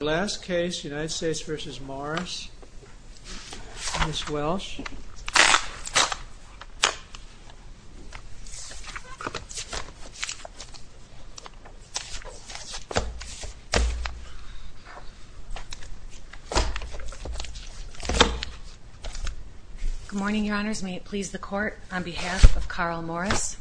Last case, United States v. Morris, Ms. Welsh. Good morning, your honors. May it please the court, on behalf of Carl Morris.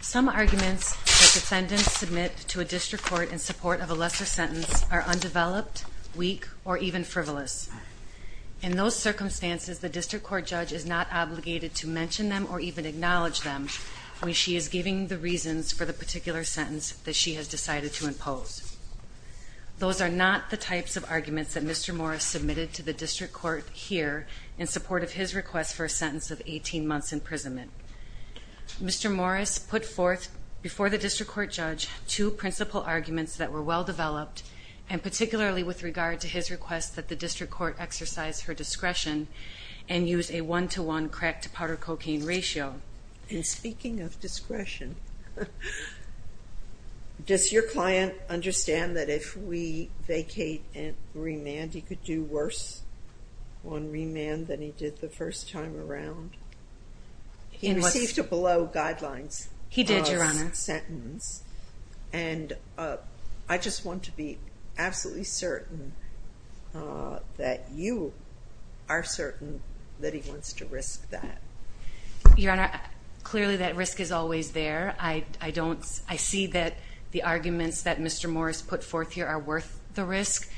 Some arguments that defendants submit to a district court in support of a lesser sentence are undeveloped, weak, or even frivolous. In those circumstances, the district court judge is not obligated to mention them or even acknowledge them when she is giving the reasons for the particular sentence that she has decided to impose. Those are not the types of arguments that Mr. Morris submitted to the district court here in support of his request for a sentence of 18 months' imprisonment. Mr. Morris put forth before the district court judge two principal arguments that were well-developed, and particularly with regard to his request that the district court exercise her discretion and use a one-to-one crack-to-powder-cocaine ratio. In speaking of discretion, does your client understand that if we vacate and remand, he could do worse on remand than he did the first time around? He received a below-guidelines sentence, and I just want to be absolutely certain that you are certain that he wants to risk that. Your Honor, clearly that risk is always there. I see that the arguments that Mr. Morris put forth here are worth the risk.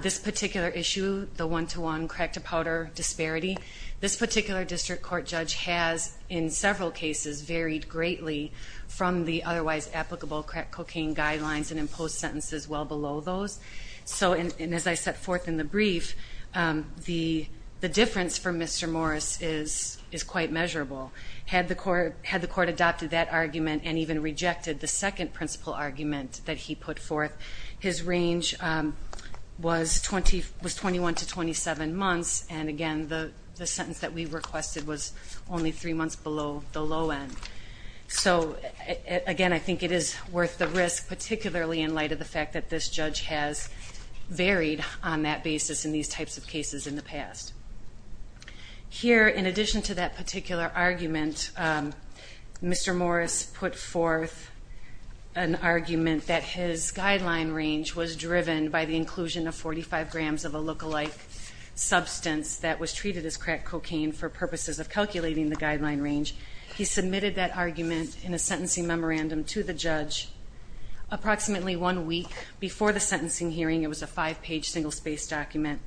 This particular issue, the one-to-one crack-to-powder disparity, this particular district court judge has, in several cases, varied greatly from the otherwise applicable crack-cocaine guidelines and imposed sentences well below those. And as I set forth in the brief, the difference for Mr. Morris is quite measurable. Had the court adopted that argument and even rejected the second principal argument that he put forth, his range was 21 to 27 months, and again, the sentence that we requested was only three months below the low end. So, again, I think it is worth the risk, particularly in light of the fact that this judge has varied on that basis in these types of cases in the past. Here, in addition to that particular argument, Mr. Morris put forth an argument that his guideline range was driven by the inclusion of 45 grams of a look-alike substance that was treated as crack-cocaine for purposes of calculating the guideline range. He submitted that argument in a sentencing memorandum to the judge approximately one week before the sentencing hearing. It was a five-page single-space document.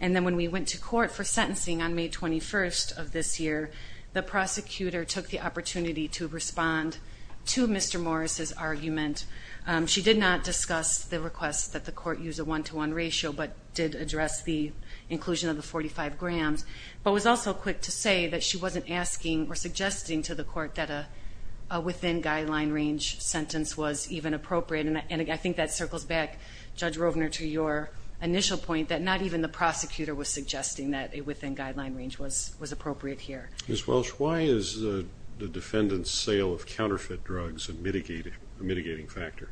And then when we went to court for sentencing on May 21st of this year, the prosecutor took the opportunity to respond to Mr. Morris's argument. She did not discuss the request that the court use a one-to-one ratio, but did address the inclusion of the 45 grams, but was also quick to say that she wasn't asking or suggesting to the court that a within-guideline range sentence was even appropriate. And I think that circles back, Judge Rovner, to your initial point that not even the prosecutor was suggesting that a within-guideline range was appropriate here. Ms. Welsh, why is the defendant's sale of counterfeit drugs a mitigating factor?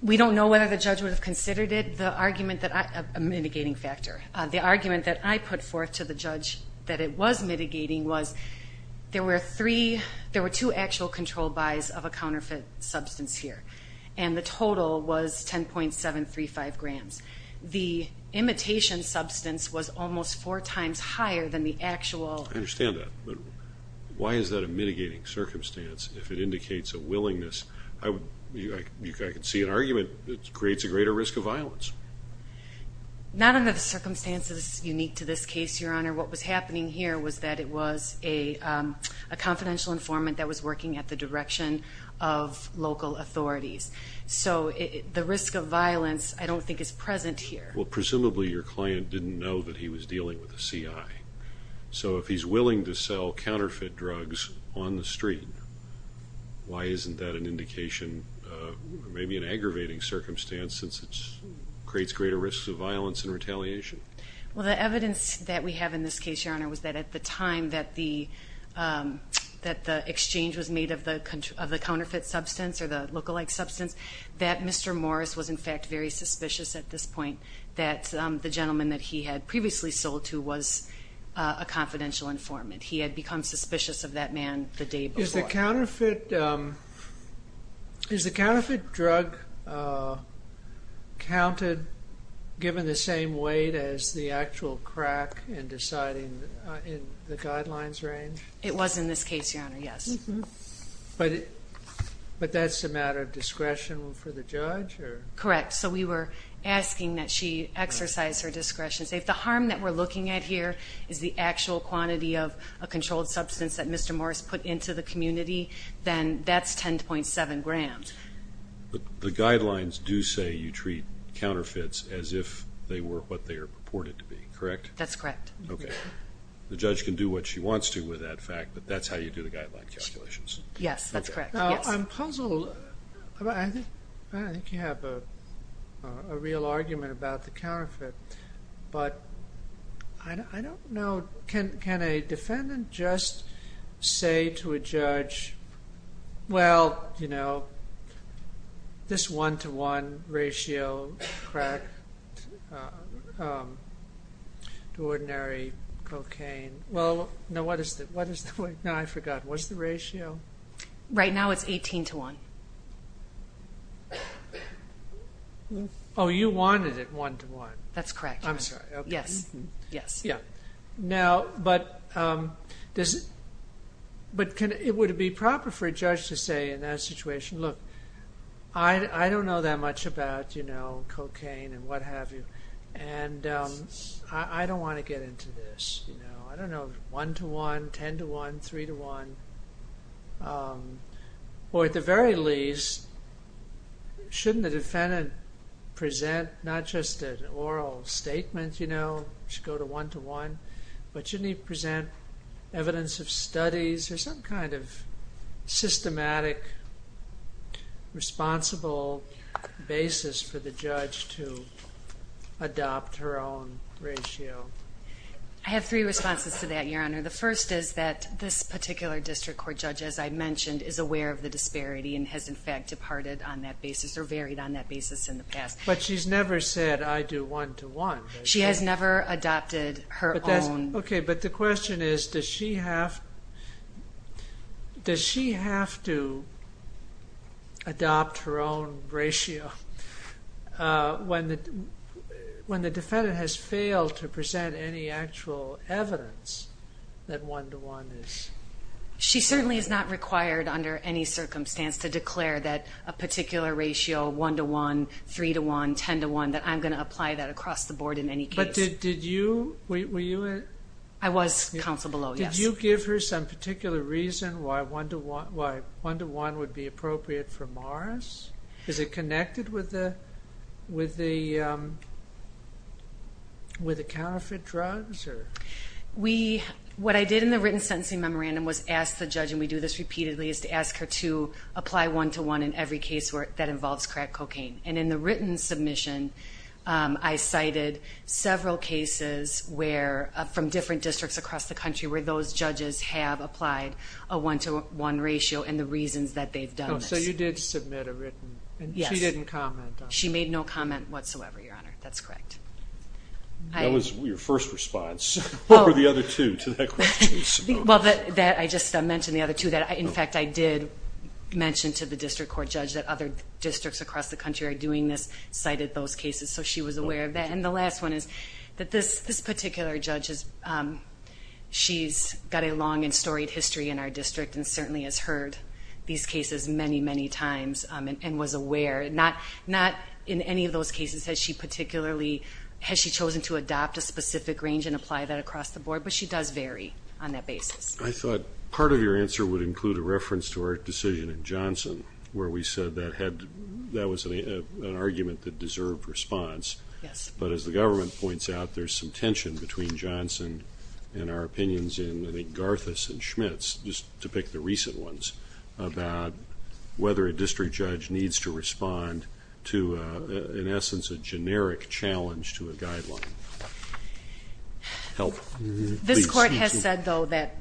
We don't know whether the judge would have considered it a mitigating factor. The argument that I put forth to the judge that it was mitigating was there were two actual controlled buys of a counterfeit substance here, and the total was 10.735 grams. The imitation substance was almost four times higher than the actual. I understand that, but why is that a mitigating circumstance if it indicates a willingness? I can see an argument that it creates a greater risk of violence. Not under the circumstances unique to this case, Your Honor. What was happening here was that it was a confidential informant that was working at the direction of local authorities. So the risk of violence I don't think is present here. Well, presumably your client didn't know that he was dealing with a CI. So if he's willing to sell counterfeit drugs on the street, why isn't that an indication, maybe an aggravating circumstance since it creates greater risks of violence and retaliation? Well, the evidence that we have in this case, Your Honor, was that at the time that the exchange was made of the counterfeit substance or the lookalike substance, that Mr. Morris was, in fact, very suspicious at this point that the gentleman that he had previously sold to was a confidential informant. He had become suspicious of that man the day before. Is the counterfeit drug counted given the same weight as the actual crack in deciding in the guidelines range? It was in this case, Your Honor, yes. But that's a matter of discretion for the judge? Correct. So we were asking that she exercise her discretion. So if the harm that we're looking at here is the actual quantity of a controlled substance that Mr. Morris put into the community, then that's 10.7 grams. But the guidelines do say you treat counterfeits as if they were what they are purported to be, correct? That's correct. Okay. The judge can do what she wants to with that fact, but that's how you do the guideline calculations? Yes, that's correct. I'm puzzled. I think you have a real argument about the counterfeit, but I don't know. Can a defendant just say to a judge, well, you know, this one-to-one ratio crack to ordinary cocaine? No, I forgot. What's the ratio? Right now it's 18-to-1. Oh, you wanted it one-to-one. That's correct, Your Honor. I'm sorry. Okay. Yes. Now, but it would be proper for a judge to say in that situation, look, I don't know that much about, you know, cocaine and what have you, and I don't want to get into this, you know. I don't know one-to-one, ten-to-one, three-to-one. Or at the very least, shouldn't the defendant present not just an oral statement, you know, should go to one-to-one, but shouldn't he present evidence of studies or some kind of systematic, responsible basis for the judge to adopt her own ratio? I have three responses to that, Your Honor. The first is that this particular district court judge, as I mentioned, is aware of the disparity and has, in fact, departed on that basis or varied on that basis in the past. But she's never said, I do one-to-one. She has never adopted her own. Okay, but the question is, does she have to adopt her own ratio when the defendant has failed to present any actual evidence that one-to-one is? She certainly is not required under any circumstance to declare that a particular ratio, one-to-one, three-to-one, ten-to-one, that I'm going to apply that across the board in any case. But did you, were you? I was counsel below, yes. Did you give her some particular reason why one-to-one would be appropriate for Morris? Is it connected with the counterfeit drugs? What I did in the written sentencing memorandum was ask the judge, and we do this repeatedly, is to ask her to apply one-to-one in every case that involves crack cocaine. And in the written submission, I cited several cases where, from different districts across the country, where those judges have applied a one-to-one ratio and the reasons that they've done this. So you did submit a written? Yes. She didn't comment? She made no comment whatsoever, Your Honor. That's correct. That was your first response. What were the other two to that question? Well, I just mentioned the other two. In fact, I did mention to the district court judge that other districts across the country are doing this, cited those cases. So she was aware of that. And the last one is that this particular judge, she's got a long and storied history in our district and certainly has heard these cases many, many times and was aware. Not in any of those cases has she chosen to adopt a specific range and apply that across the board, but she does vary on that basis. I thought part of your answer would include a reference to our decision in Johnson where we said that was an argument that deserved response. Yes. But as the government points out, there's some tension between Johnson and our opinions in, I think, Garthas and Schmitz, just to pick the recent ones, about whether a district judge needs to respond to, in essence, a generic challenge to a guideline. Help. This court has said, though, that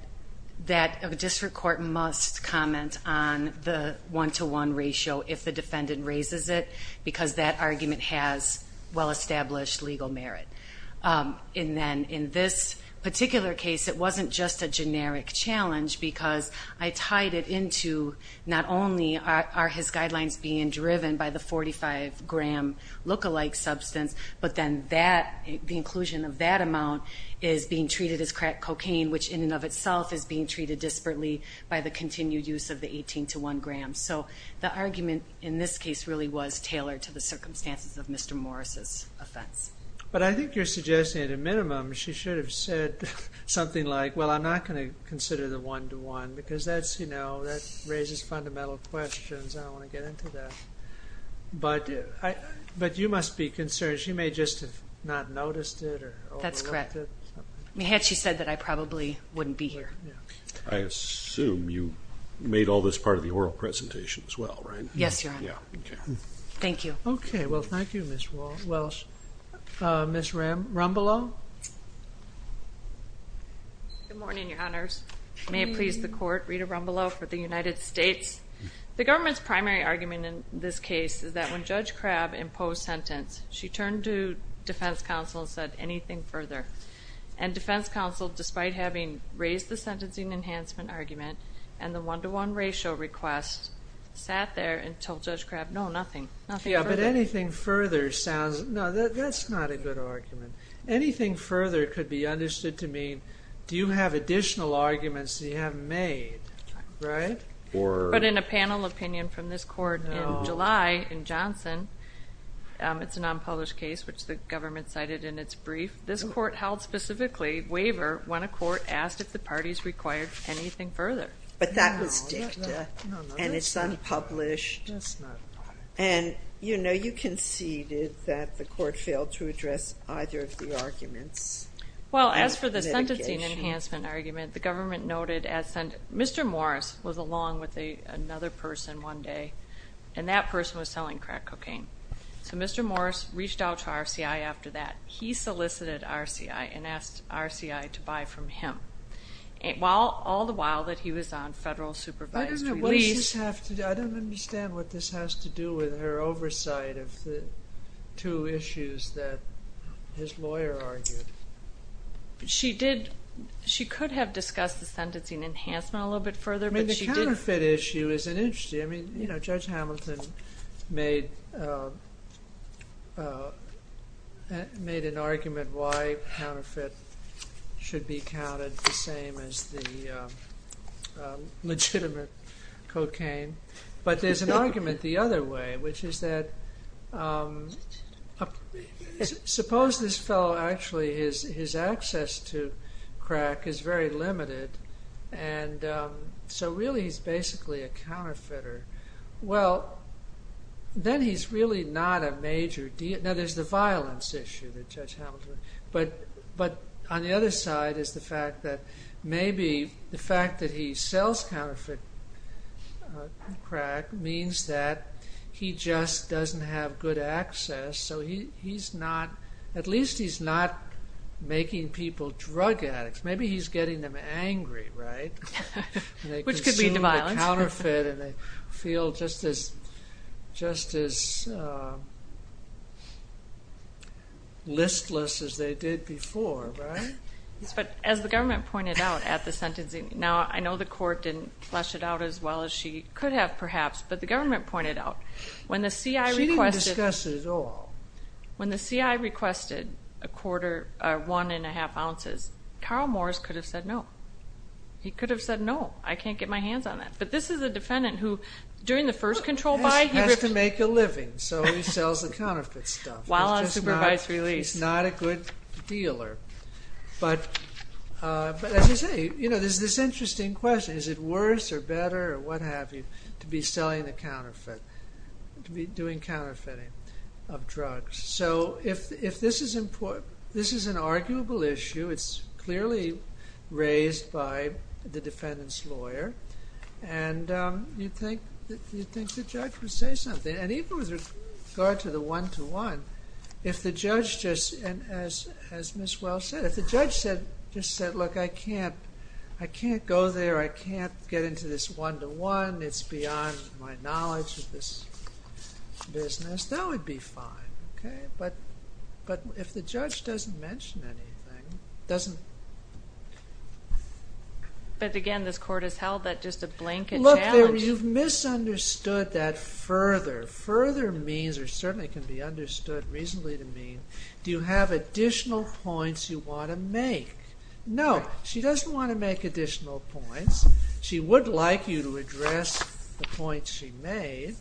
a district court must comment on the one-to-one ratio if the defendant raises it because that argument has well-established legal merit. And then in this particular case, it wasn't just a generic challenge because I tied it into not only are his guidelines being driven by the 45-gram lookalike substance, but then the inclusion of that amount is being treated as crack cocaine, which in and of itself is being treated disparately by the continued use of the 18-to-1 grams. So the argument in this case really was tailored to the circumstances of Mr. Morris's offense. But I think you're suggesting at a minimum she should have said something like, well, I'm not going to consider the one-to-one because that raises fundamental questions. I don't want to get into that. But you must be concerned she may just have not noticed it or overlooked it. That's correct. I mean, had she said that, I probably wouldn't be here. I assume you made all this part of the oral presentation as well, right? Yes, Your Honor. Thank you. Okay. Well, thank you, Ms. Welsh. Ms. Rumbelow? Good morning, Your Honors. May it please the court, Rita Rumbelow for the United States. The government's primary argument in this case is that when Judge Crabb imposed sentence, she turned to defense counsel and said anything further. And defense counsel, despite having raised the sentencing enhancement argument and the one-to-one ratio request, sat there and told Judge Crabb, no, nothing. Yeah, but anything further sounds ñ no, that's not a good argument. Anything further could be understood to mean do you have additional arguments that you haven't made, right? But in a panel opinion from this court in July in Johnson, it's a non-published case, which the government cited in its brief, this court held specifically waiver when a court asked if the parties required anything further. But that was dicta, and it's unpublished. That's not right. And, you know, you conceded that the court failed to address either of the arguments. Well, as for the sentencing enhancement argument, the government noted as Mr. Morris was along with another person one day, and that person was selling crack cocaine. So Mr. Morris reached out to RCI after that. He solicited RCI and asked RCI to buy from him, all the while that he was on federal supervised release. I don't understand what this has to do with her oversight of the two issues that his lawyer argued. She did. She could have discussed the sentencing enhancement a little bit further, but she didn't. I mean, the counterfeit issue is an interesting, I mean, you know, Judge Hamilton made an argument why counterfeit should be counted the same as the legitimate cocaine. But there's an argument the other way, which is that suppose this fellow actually his access to crack is very limited, and so really he's basically a counterfeiter. Well, then he's really not a major deal. Now, there's the violence issue that Judge Hamilton, but on the other side is the fact that maybe the fact that he sells counterfeit crack means that he just doesn't have good access. So he's not, at least he's not making people drug addicts. Maybe he's getting them angry, right? Which could lead to violence. And they consume the counterfeit and they feel just as listless as they did before, right? Yes, but as the government pointed out at the sentencing, now I know the court didn't flesh it out as well as she could have perhaps, but the government pointed out when the CI requested one and a half ounces, Carl Morris could have said no. He could have said no. I can't get my hands on that. But this is a defendant who during the first control buy, He has to make a living, so he sells the counterfeit stuff. While on supervised release. He's not a good dealer. But as you say, there's this interesting question. Is it worse or better or what have you to be selling the counterfeit, to be doing counterfeiting of drugs? So if this is an arguable issue, it's clearly raised by the defendant's lawyer. And you'd think the judge would say something. And even with regard to the one to one, if the judge just, as Ms. Wells said, if the judge just said, look, I can't go there. I can't get into this one to one. It's beyond my knowledge of this business. That would be fine, okay? But if the judge doesn't mention anything, doesn't. But again, this court has held that just a blanket challenge. Look, you've misunderstood that further. Further means, or certainly can be understood reasonably to mean, do you have additional points you want to make? No, she doesn't want to make additional points. She would like you to address the points she made.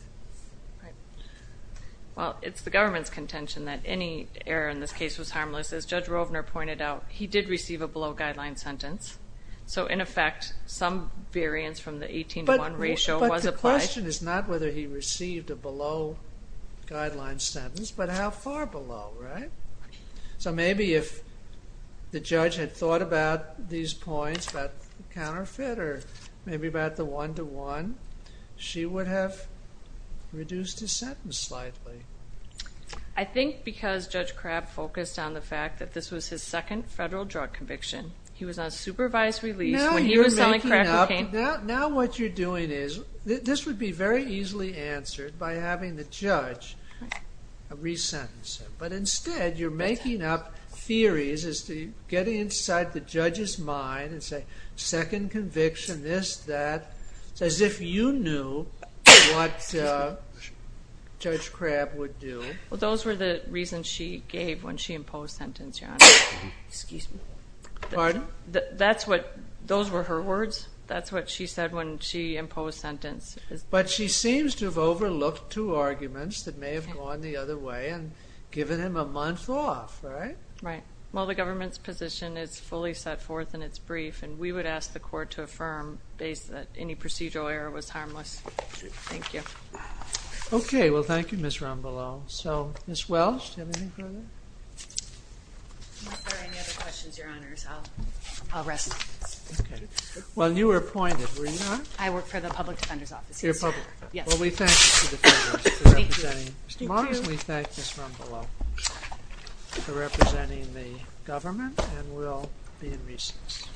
Well, it's the government's contention that any error in this case was harmless. As Judge Rovner pointed out, he did receive a below guideline sentence. So in effect, some variance from the 18 to 1 ratio was applied. The question is not whether he received a below guideline sentence, but how far below, right? So maybe if the judge had thought about these points, about the counterfeit or maybe about the one to one, she would have reduced his sentence slightly. I think because Judge Crabb focused on the fact that this was his second federal drug conviction. He was on supervised release when he was selling crack cocaine. Now what you're doing is, this would be very easily answered by having the judge re-sentence him. But instead, you're making up theories as to get inside the judge's mind and say, second conviction, this, that, as if you knew what Judge Crabb would do. Well, those were the reasons she gave when she imposed sentence, Your Honor. Excuse me. Pardon? Those were her words. That's what she said when she imposed sentence. But she seems to have overlooked two arguments that may have gone the other way and given him a month off, right? Right. Well, the government's position is fully set forth in its brief, and we would ask the court to affirm that any procedural error was harmless. Thank you. Okay. Well, thank you, Ms. Rombolo. So, Ms. Welsh, do you have anything further? If there are any other questions, Your Honors, I'll rest my case. Okay. Well, you were appointed, were you not? I work for the Public Defender's Office. You're a public defender. Yes. Well, we thank you for representing us. Thank you. Tomorrow, we thank Ms. Rombolo for representing the government, and we'll be in recess. Okay. Thank you.